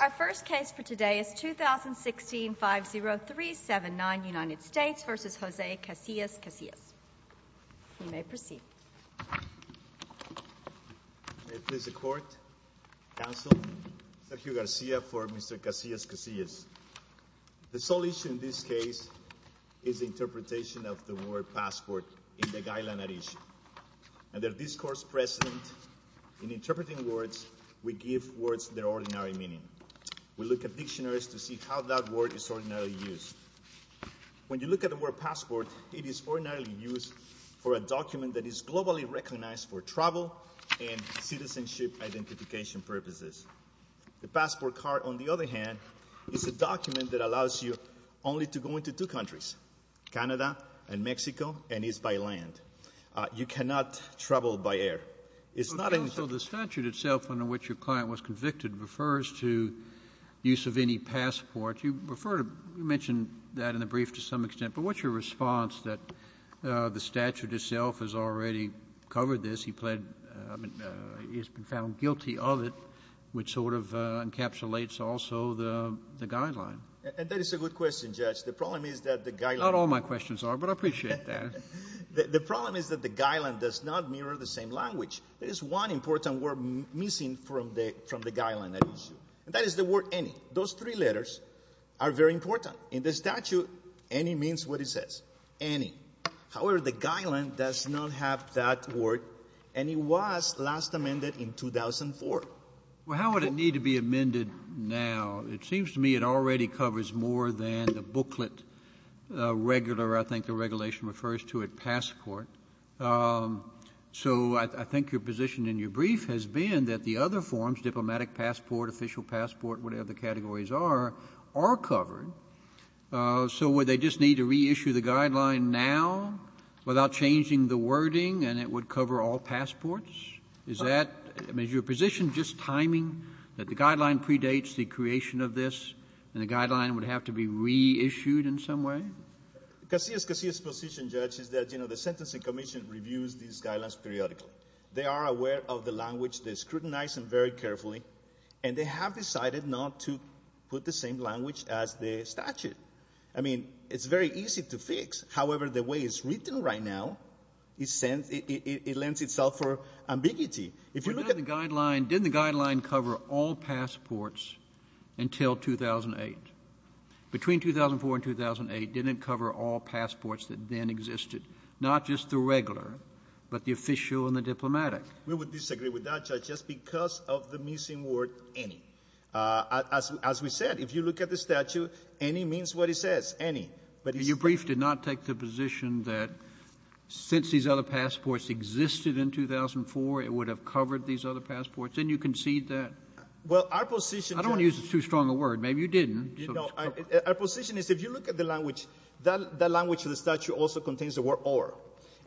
Our first case for today is 2016-50379, United States v. Jose Casillas-Casillas. You may proceed. May it please the court, counsel, Sergio Garcia for Mr. Casillas-Casillas. The sole issue in this case is the interpretation of the word passport in the Guylain-Arici. Under discourse present in interpreting words, we give words their ordinary meaning. We look at dictionaries to see how that word is ordinarily used. When you look at the word passport, it is ordinarily used for a document that is globally recognized for travel and citizenship identification purposes. The passport card, on the other hand, is a document that allows you only to go into two countries. You cannot travel by air. It's not in the statute itself under which your client was convicted refers to use of any passport. You mentioned that in the brief to some extent, but what's your response that the statute itself has already covered this? He's been found guilty of it, which sort of encapsulates also the guideline. And that is a good question, Judge. The problem is that the guideline... Not all my questions are, but I appreciate that. The problem is that the guideline does not mirror the same language. There is one important word missing from the guideline at issue, and that is the word any. Those three letters are very important. In the statute, any means what it says, any. However, the guideline does not have that word, and it was last amended in 2004. Well, how would it need to be amended now? It seems to me already covers more than the booklet regular, I think the regulation refers to it, passport. So I think your position in your brief has been that the other forms, diplomatic passport, official passport, whatever the categories are, are covered. So would they just need to reissue the guideline now without changing the wording, and it would cover all passports? Is that... Just timing that the guideline predates the creation of this, and the guideline would have to be reissued in some way? Casillas' position, Judge, is that, you know, the Sentencing Commission reviews these guidelines periodically. They are aware of the language. They scrutinize them very carefully, and they have decided not to put the same language as the statute. I mean, it's very easy to fix. However, the way it's written right now, it lends itself for the statute. Didn't the guideline cover all passports until 2008? Between 2004 and 2008, didn't it cover all passports that then existed, not just the regular, but the official and the diplomatic? We would disagree with that, Judge, just because of the missing word, any. As we said, if you look at the statute, any means what it says, any. But your brief did not take the position that since these other passports existed in 2004, it would have covered these other passports. Didn't you concede that? Well, our position... I don't want to use too strong a word. Maybe you didn't. Our position is, if you look at the language, that language of the statute also contains the word or,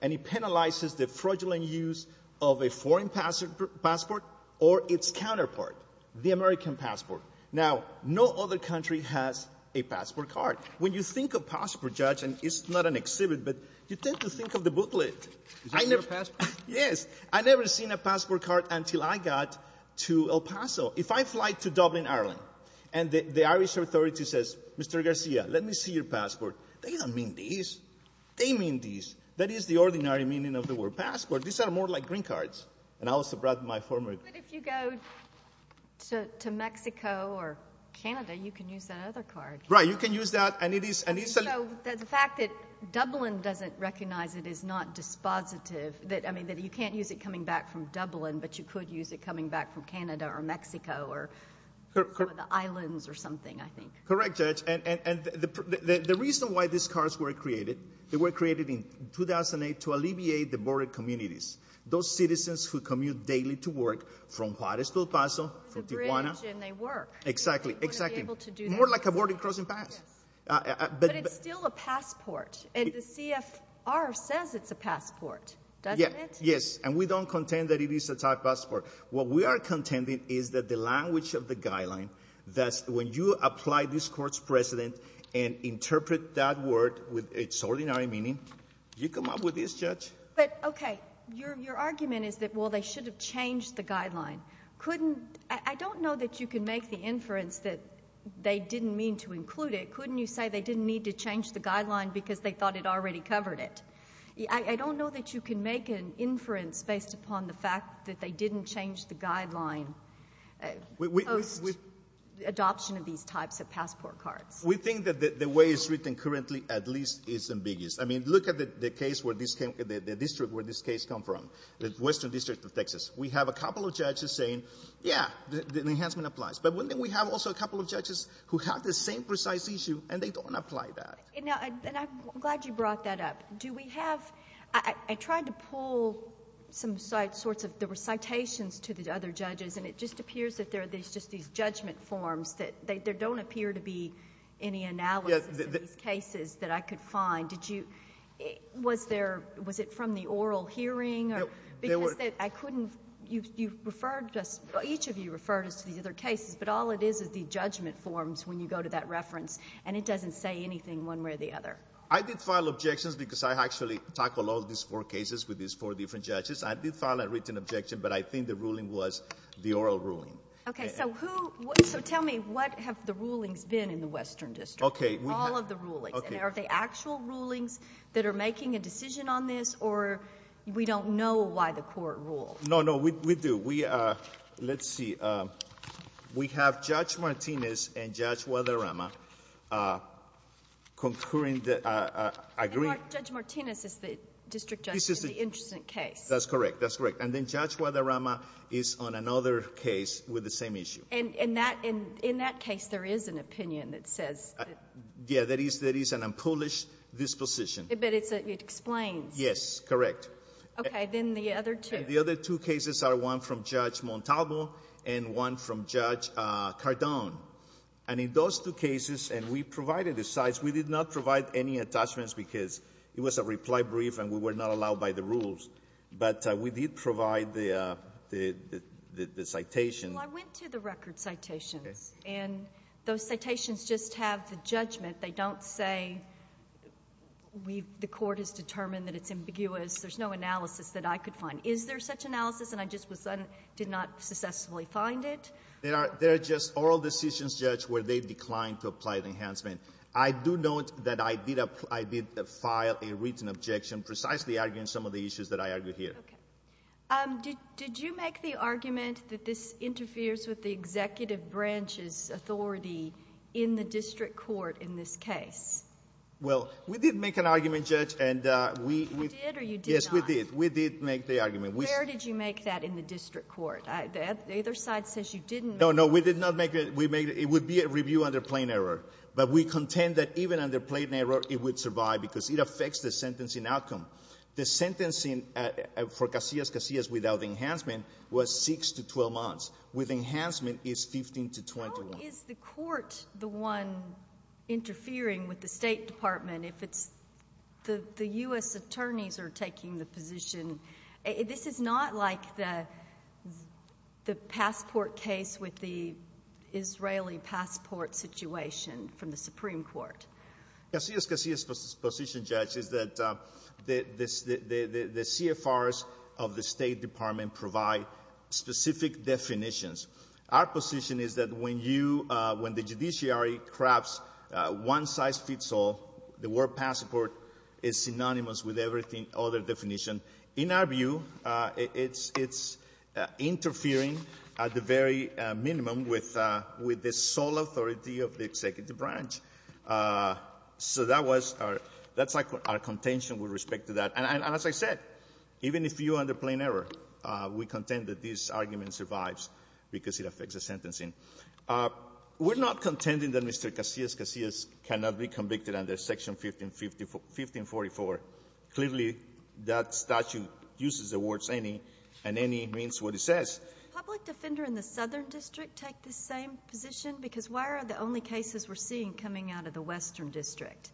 and it penalizes the fraudulent use of a foreign passport or its counterpart, the American passport. Now, no other country has a passport card. When you think of passport, Judge, and it's not an exhibit, but you tend to think of the booklet. Is that your passport? Yes. I've never seen a passport card until I got to El Paso. If I fly to Dublin, Ireland, and the Irish authority says, Mr. Garcia, let me see your passport. They don't mean this. They mean this. That is the ordinary meaning of the word passport. These are more like green cards. And I also brought my former... But if you go to Mexico or Canada, you can use that other card. Right. You can use that. And it is... I mean, that you can't use it coming back from Dublin, but you could use it coming back from Canada or Mexico or the islands or something, I think. Correct, Judge. And the reason why these cards were created, they were created in 2008 to alleviate the border communities. Those citizens who commute daily to work from Juarez to El Paso, from Tijuana... There's a bridge and they work. Exactly. Exactly. They wouldn't be able to do that. More like a border crossing pass. Yes. But it's still a passport. And the CFR says it's a passport. Doesn't it? Yes. And we don't contend that it is a type passport. What we are contending is that the language of the guideline, that when you apply this Court's precedent and interpret that word with its ordinary meaning, you come up with this, Judge. But, okay, your argument is that, well, they should have changed the guideline. Couldn't... I don't know that you can make the inference that they didn't mean to include it. Couldn't you say they didn't need to change the guideline because they thought it already covered it? I don't know that you can make an inference based upon the fact that they didn't change the guideline post-adoption of these types of passport cards. We think that the way it's written currently at least is ambiguous. I mean, look at the case where this came, the district where this case come from, the Western District of Texas. We have a couple of judges saying, yeah, the enhancement applies. But wouldn't we have also a couple of judges who have the same precise issue and they don't apply that? Now, and I'm glad you brought that up. Do we have... I tried to pull some sites, sorts of, there were citations to the other judges and it just appears that there are these, just these judgment forms that there don't appear to be any analysis of these cases that I could find. Did you, was there, was it from the oral hearing? Because I couldn't, you referred to us, each of you referred us to these other cases, but all it is, the judgment forms when you go to that reference and it doesn't say anything one way or the other. I did file objections because I actually tackle all these four cases with these four different judges. I did file a written objection, but I think the ruling was the oral ruling. Okay. So who, so tell me, what have the rulings been in the Western District? Okay. All of the rulings. Are they actual rulings that are making a decision on this or we don't know why the court ruled? No, no, we do. We, let's see, we have Judge Martinez and Judge Guadarrama concurring, agreeing... Judge Martinez is the district judge in the interesting case. That's correct. That's correct. And then Judge Guadarrama is on another case with the same issue. And in that case, there is an opinion that says... Yeah, that is an unpublished disposition. But it's, it explains. Yes, correct. Okay. Then the other two. The other two cases are one from Judge Montalvo and one from Judge Cardone. And in those two cases, and we provided the cites, we did not provide any attachments because it was a reply brief and we were not allowed by the rules. But we did provide the citation. Well, I went to the record citations. Okay. And those citations just have the judgment. They don't say, the court has determined that it's ambiguous. There's no analysis that I could find. Is there such analysis? And I just did not successfully find it. There are just oral decisions, Judge, where they declined to apply the enhancement. I do note that I did file a written objection precisely arguing some of the issues that I argued here. Okay. Did you make the argument that this interferes with the executive branch's authority in the district court in this case? Well, we did make an argument, Judge, and we... You did or you did not? Yes, we did. We did make the argument. Where did you make that in the district court? Either side says you didn't. No, no. We did not make it. We made it. It would be a review under plain error. But we contend that even under plain error, it would survive because it affects the sentencing outcome. The sentencing for Casillas-Casillas without enhancement was 6 to 12 months. With enhancement, it's 15 to 21. How is the court the one interfering with the State Department if it's the U.S. attorneys are taking the position? This is not like the passport case with the Israeli passport situation from the Supreme Court. Casillas-Casillas' position, Judge, is that the CFRs of the State Department provide specific definitions. Our position is that when the judiciary crafts one-size-fits-all, the word passport is synonymous with everything other definition. In our view, it's interfering at the very minimum with the sole authority of the executive branch. So that was our — that's our contention with respect to that. And as I said, even if you're under plain error, we contend that this argument survives because it affects the sentencing. We're not contending that Mr. Casillas-Casillas cannot be convicted under Section 1544. Clearly, that statute uses the words any and any means what it says. Public defender in the Southern District take the same position? Because why are the only cases we're seeing coming out of the Western District?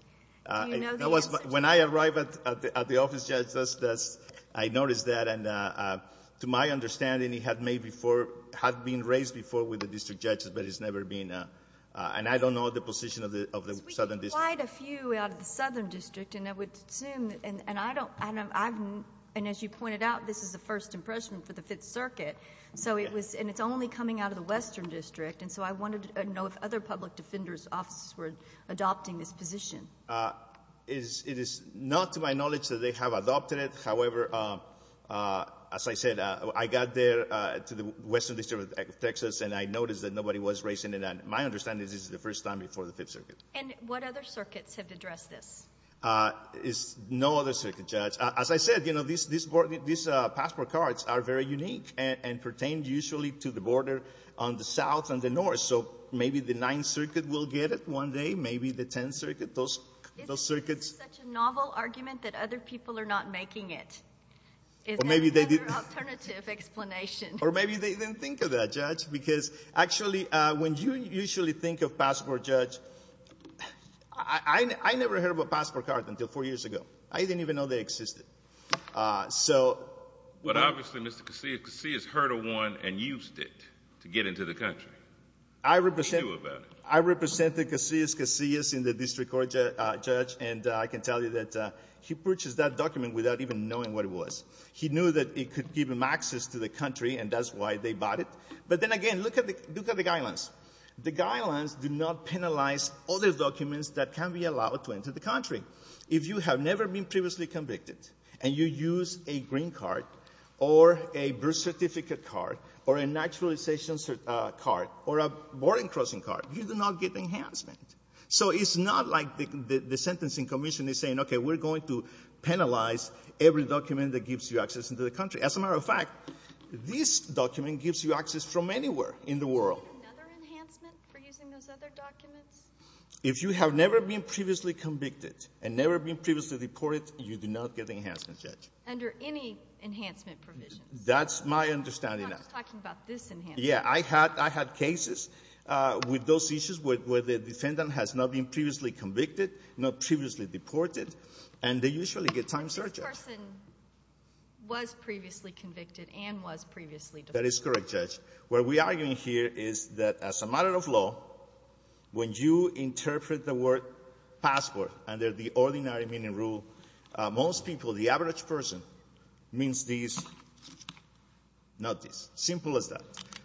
Do you know the answer? When I arrived at the office, Judge, that's — I noticed that. And to my understanding, he had made before — had been raised before with the district judge, but he's never been — and I don't know the position of the Southern District. We get quite a few out of the Southern District, and I would assume — and I don't — and as you pointed out, this is the first impression for the Fifth Circuit. So it was — and it's only coming out of the Western District. And so I wanted to know if other public defenders' offices were adopting this position. It is not to my knowledge that they have adopted it. However, as I said, I got there to the Western District of Texas, and I noticed that nobody was raising it. And my understanding is this is the first time before the Fifth Circuit. And what other circuits have addressed this? There's no other circuit, Judge. As I said, you know, these passport cards are very unique and pertain usually to the border on the South and the North. So maybe the Ninth Circuit will get it one day, maybe the Tenth Circuit. Those circuits — Isn't this such a novel argument that other people are not making it? Well, maybe they did — Alternative explanation. Or maybe they didn't think of that, Judge, because actually, when you usually think of passport, Judge, I never heard of a passport card until four years ago. I didn't even know they existed. So — But obviously, Mr. Casillas heard of one and used it to get into the country. I represent — He knew about it. I represented Casillas in the District Court, Judge, and I can tell you that he purchased that document without even knowing what it was. He knew that it could give him access to the country, and that's why they bought it. But then again, look at the guidelines. The guidelines do not penalize other documents that can be allowed to enter the country. If you have never been previously convicted and you use a green card or a birth certificate card or a naturalization card or a border crossing card, you do not get enhancement. So it's not like the Sentencing Commission is saying, okay, we're going to penalize every document that gives you access into the country. As a matter of fact, this document gives you access from anywhere in the world. Do you need another enhancement for using those other documents? If you have never been previously convicted and never been previously deported, you do not get enhancement, Judge. Under any enhancement provisions. That's my understanding. I'm not just talking about this enhancement. Yeah, I had cases with those issues where the defendant has not been previously convicted, not previously deported, and they usually get time surges. This person was previously convicted and was previously deported. That is correct, Judge. What we are arguing here is that as a matter of law, when you interpret the word passport under the ordinary meaning rule, most people, the average person, means this, not this. Simple as that.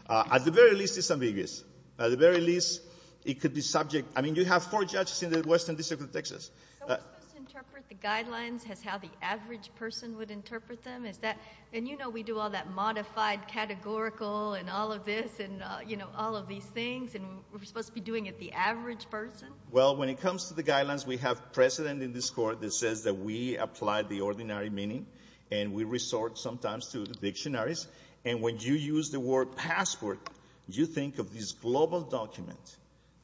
At the very least, it's ambiguous. At the very least, it could be subject. I mean, you have four judges in the Western District of Texas. So we're supposed to interpret the guidelines as how the average person would interpret them? Is that — and you know we do all that modified categorical and all of this and, you know, all of these things, and we're supposed to be doing it the average person? Well, when it comes to the guidelines, we have precedent in this Court that says that we apply the ordinary meaning and we resort sometimes to the dictionaries. And when you use the word passport, you think of this global document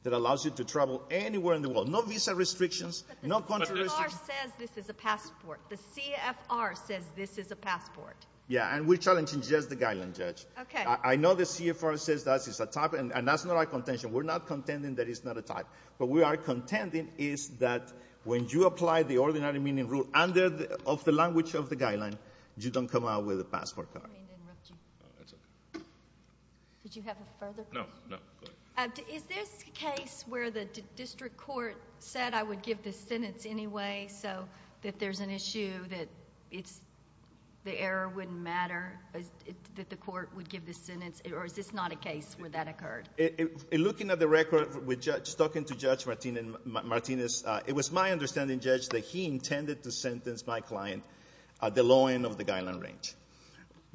that allows you to travel anywhere in the world. No visa restrictions, no country restrictions. But the CFR says this is a passport. The CFR says this is a passport. Yeah, and we're challenging just the guideline, Judge. Okay. I know the CFR says that it's a type, and that's not our contention. We're not contending that it's not a type. What we are contending is that when you apply the ordinary meaning rule under the — of the language of the guideline, you don't come out with a passport card. I didn't mean to interrupt you. Oh, that's okay. Did you have a further question? No, no, go ahead. Is this a case where the District Court said, I would give the sentence anyway, so that there's an issue that it's — the error wouldn't matter, that the Court would give the sentence? Or is this not a case where that occurred? Looking at the record with Judge — talking to Judge Martinez, it was my understanding, Judge, that he intended to sentence my client at the low end of the guideline range.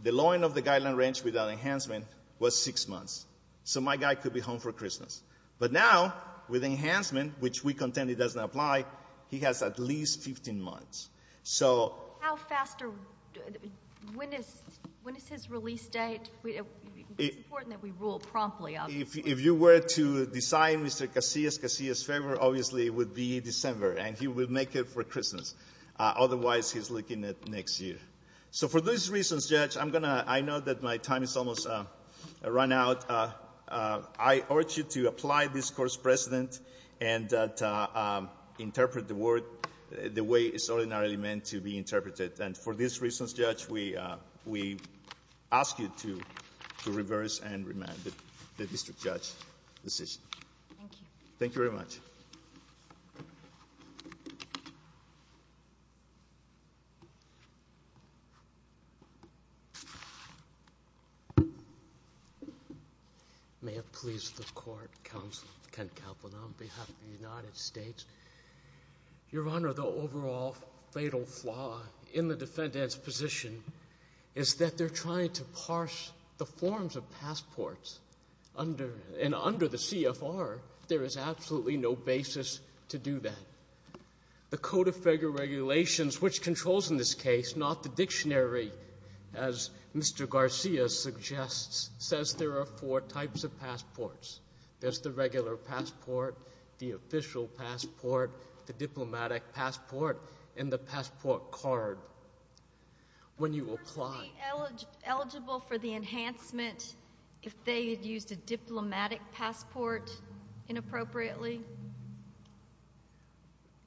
The low end of the guideline range without enhancement was six months. So my guy could be home for Christmas. But now, with enhancement, which we contend it doesn't apply, he has at least 15 months. So — How fast are — when is — when is his release date? It's important that we rule promptly. If you were to design Mr. Casillas, Casillas' favor, obviously, would be December. And he will make it for Christmas. Otherwise, he's looking at next year. So for those reasons, Judge, I'm going to — I know that my time has almost run out. I urge you to apply this Court's precedent and interpret the word the way it's ordinarily meant to be interpreted. And for these reasons, Judge, we ask you to reverse and remand the district judge decision. Thank you. Thank you very much. May it please the Court, Counsel Kent Kaplan, on behalf of the United States. Your Honor, the overall fatal flaw in the defendant's position is that they're trying to parse the forms of passports. Under — and under the CFR, there is absolutely no basis to do that. The Code of Federal Regulations, which controls in this case, not the dictionary, as Mr. Garcia suggests, says there are four types of passports. There's the regular passport, the official passport, the diplomatic passport, and the passport card. When you apply — Were they eligible for the enhancement if they had used a diplomatic passport inappropriately?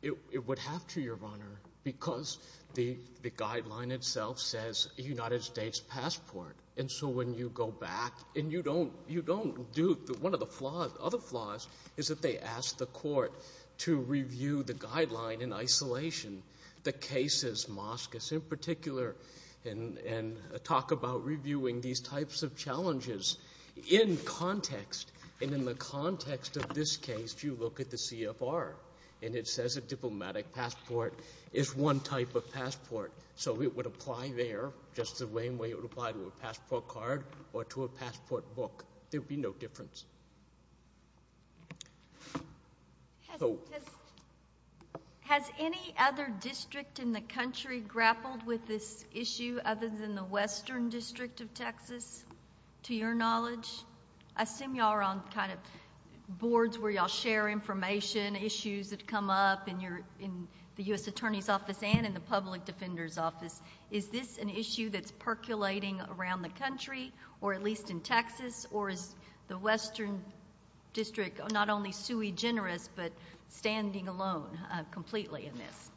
It would have to, Your Honor, because the guideline itself says a United States passport. And so when you go back and you don't — you don't do — one of the flaws — other flaws is that they ask the Court to review the guideline in isolation. The cases, Moskos in particular, and talk about reviewing these types of challenges in context. And in the context of this case, you look at the CFR, and it says a diplomatic passport is one type of passport. So it would apply there just the same way it would apply to a passport card or to a passport book. There would be no difference. Has any other district in the country grappled with this issue other than the Western District of Texas, to your knowledge? I assume y'all are on kind of boards where y'all share information, issues that come up in your — in the U.S. Attorney's Office and in the Public Defender's Office. Is this an issue that's percolating around the country, or at least in Texas? Or is the Western District not only sui generis but standing alone completely in this?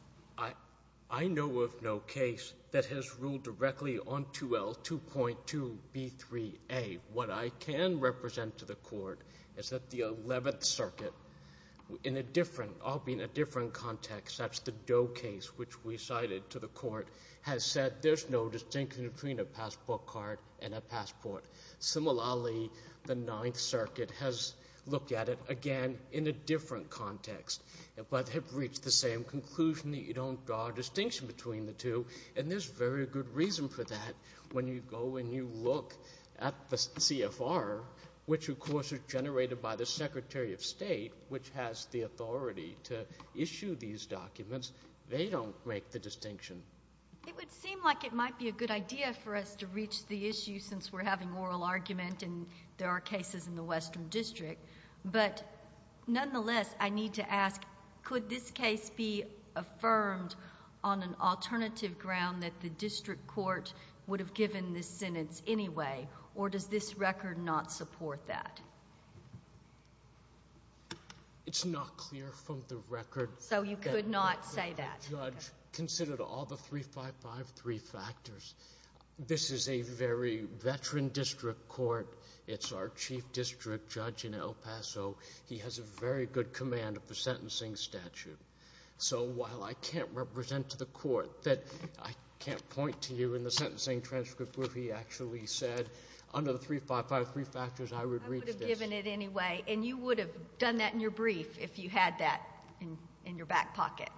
I know of no case that has ruled directly on 2L 2.2b3a. What I can represent to the Court is that the 11th Circuit, in a different — I'll be in a different context. That's the Doe case, which we cited to the Court, has said there's no distinction between a passport card and a passport. Similarly, the 9th Circuit has looked at it, again, in a different context, but have reached the same conclusion that you don't draw a distinction between the two. And there's very good reason for that. When you go and you look at the CFR, which, of course, is generated by the Secretary of State, which has the authority to issue these documents, they don't make the distinction. It would seem like it might be a good idea for us to reach the issue, since we're having oral argument and there are cases in the Western District. But nonetheless, I need to ask, could this case be affirmed on an alternative ground that the district court would have given this sentence anyway, or does this record not support that? It's not clear from the record. So you could not say that. Judge, consider all the 3553 factors. This is a very veteran district court. It's our chief district judge in El Paso. He has a very good command of the sentencing statute. So while I can't represent to the court that I can't point to you in the sentencing transcript where he actually said, under the 3553 factors, I would reach this. I would have given it anyway. And you would have done that in your brief if you had that in your back pocket.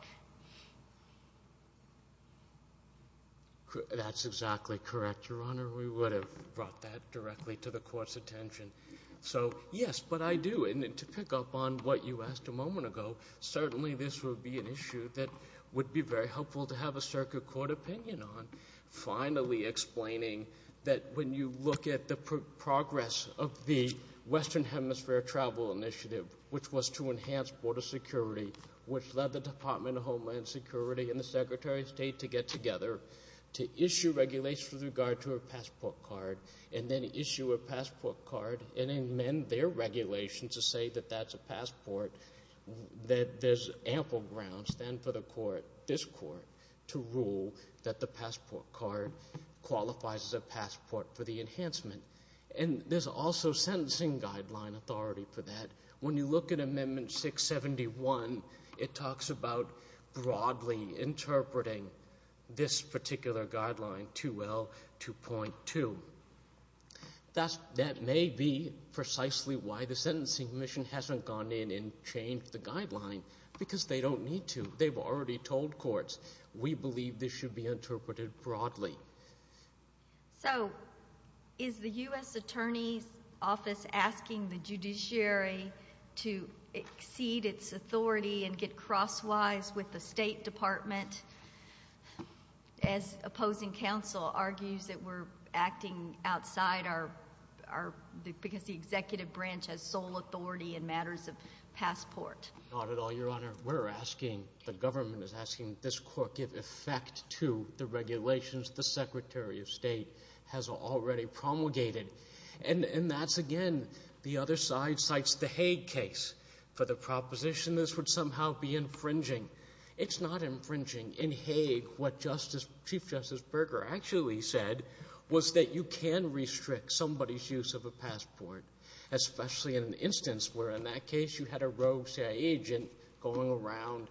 That's exactly correct, Your Honor. We would have brought that directly to the court's attention. So yes, but I do. And to pick up on what you asked a moment ago, certainly this would be an issue that would be very helpful to have a circuit court opinion on, finally explaining that when you look at the progress of the Western Hemisphere Travel Initiative, which was to enhance border security, which led the Department of Homeland Security and the Secretary of State to get and then issue a passport card and amend their regulation to say that that's a passport, that there's ample grounds then for the court, this court, to rule that the passport card qualifies as a passport for the enhancement. And there's also sentencing guideline authority for that. When you look at Amendment 671, it talks about broadly interpreting this particular guideline 2.2L to 2.2. That may be precisely why the Sentencing Commission hasn't gone in and changed the guideline, because they don't need to. They've already told courts, we believe this should be interpreted broadly. So is the U.S. Attorney's Office asking the judiciary to exceed its authority and get to the bottom of this, because the executive branch has sole authority in matters of passport? Not at all, Your Honor. We're asking, the government is asking, this court give effect to the regulations the Secretary of State has already promulgated. And that's, again, the other side cites the Hague case for the proposition this would somehow be infringing. It's not infringing. In Hague, what Chief Justice Berger actually said was that you can restrict somebody's use of a passport, especially in an instance where, in that case, you had a rogue CIA agent going around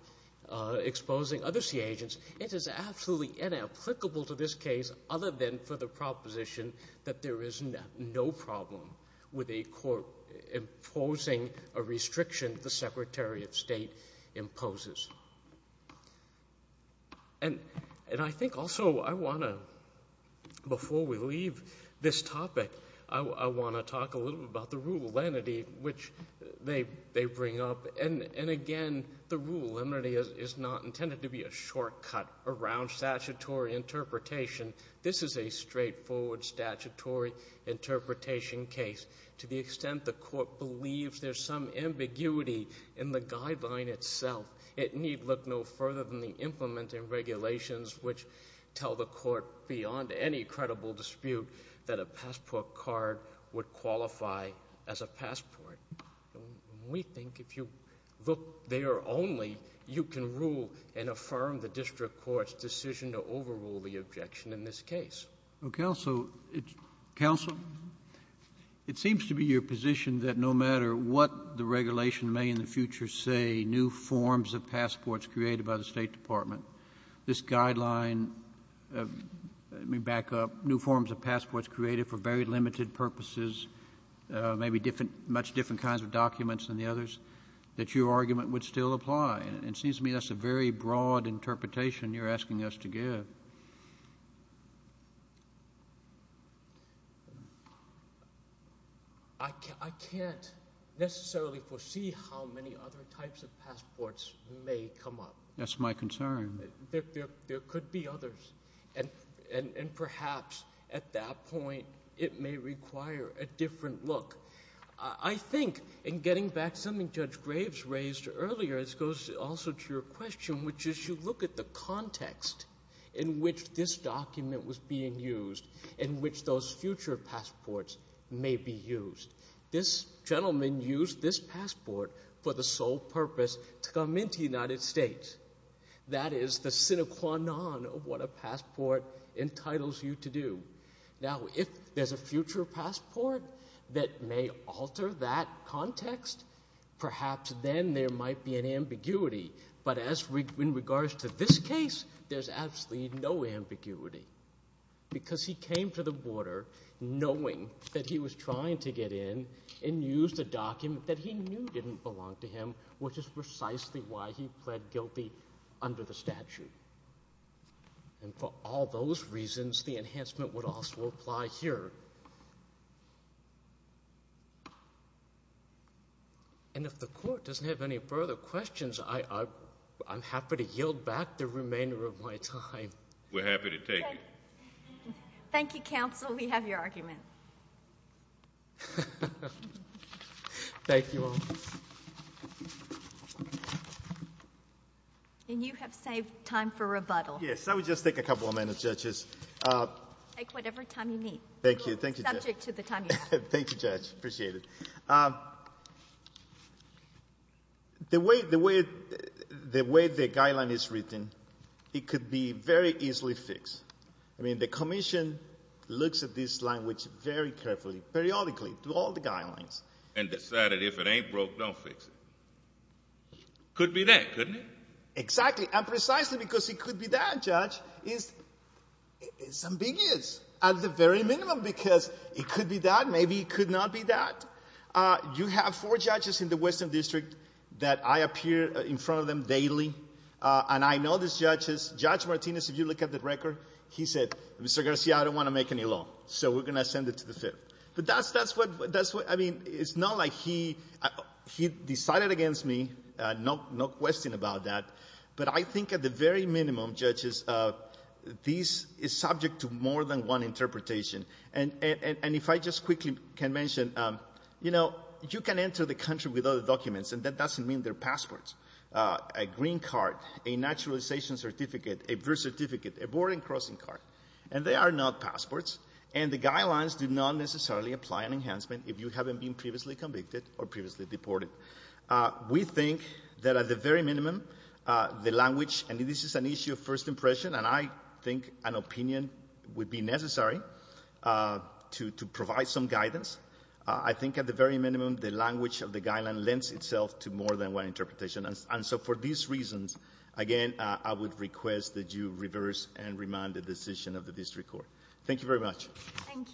exposing other CIA agents. It is absolutely inapplicable to this case other than for the proposition that there is no problem with a court imposing a restriction the Secretary of State imposes. And I think also I want to, before we leave this topic, I want to talk a little bit about the rule of lenity, which they bring up. And, again, the rule of lenity is not intended to be a shortcut around statutory interpretation. This is a straightforward statutory interpretation case. To the extent the court believes there's some ambiguity in the guideline itself, it need look no further than the implementing regulations which tell the court beyond any credible dispute that a passport card would qualify as a passport. We think if you look there only, you can rule and affirm the district court's decision to overrule the objection in this case. Counsel, it seems to be your position that no matter what the regulation may in the future say, new forms of passports created by the State Department, this guideline, let me back up, new forms of passports created for very limited purposes, maybe much different kinds of documents than the others, that your argument would still apply. It seems to me that's a very broad interpretation you're asking us to give. I can't necessarily foresee how many other types of passports may come up. That's my concern. There could be others. And perhaps at that point, it may require a different look. I think in getting back to something Judge Graves raised earlier, this goes also to your context in which this document was being used, in which those future passports may be used. This gentleman used this passport for the sole purpose to come into the United States. That is the sine qua non of what a passport entitles you to do. Now, if there's a future passport that may alter that context, perhaps then there might be an ambiguity. But in regards to this case, there's absolutely no ambiguity. Because he came to the border knowing that he was trying to get in and used a document that he knew didn't belong to him, which is precisely why he pled guilty under the statute. And for all those reasons, the enhancement would also apply here. And if the Court doesn't have any further questions, I'm happy to yield back the remainder of my time. We're happy to take it. Thank you, counsel. We have your argument. Thank you all. And you have saved time for rebuttal. Yes, I would just take a couple of minutes, judges. Take whatever time you need. Thank you. Thank you, Judge. Subject to the time you have. Thank you, Judge. Appreciate it. The way the guideline is written, it could be very easily fixed. I mean, the Commission looks at this language very carefully, periodically, through all the guidelines. And decided if it ain't broke, don't fix it. Could be that, couldn't it? Exactly. And precisely because it could be that, Judge, it's ambiguous at the very minimum. Because it could be that, maybe it could not be that. You have four judges in the Western District that I appear in front of them daily. And I know these judges. Judge Martinez, if you look at the record, he said, Mr. Garcia, I don't want to make any law. So we're going to send it to the Fifth. But that's what, I mean, it's not like he decided against me. No question about that. But I think at the very minimum, judges, this is subject to more than one interpretation. And if I just quickly can mention, you know, you can enter the country with other documents. And that doesn't mean they're passports. A green card, a naturalization certificate, a birth certificate, a boarding and crossing card. And they are not passports. And the guidelines do not necessarily apply an enhancement if you haven't been previously convicted or previously deported. We think that at the very minimum, the language, and this is an issue of first impression, and I think an opinion would be necessary to provide some guidance. I think at the very minimum, the language of the guideline lends itself to more than one interpretation. And so for these reasons, again, I would request that you reverse and remand the decision of the District Court. Thank you very much. Thank you.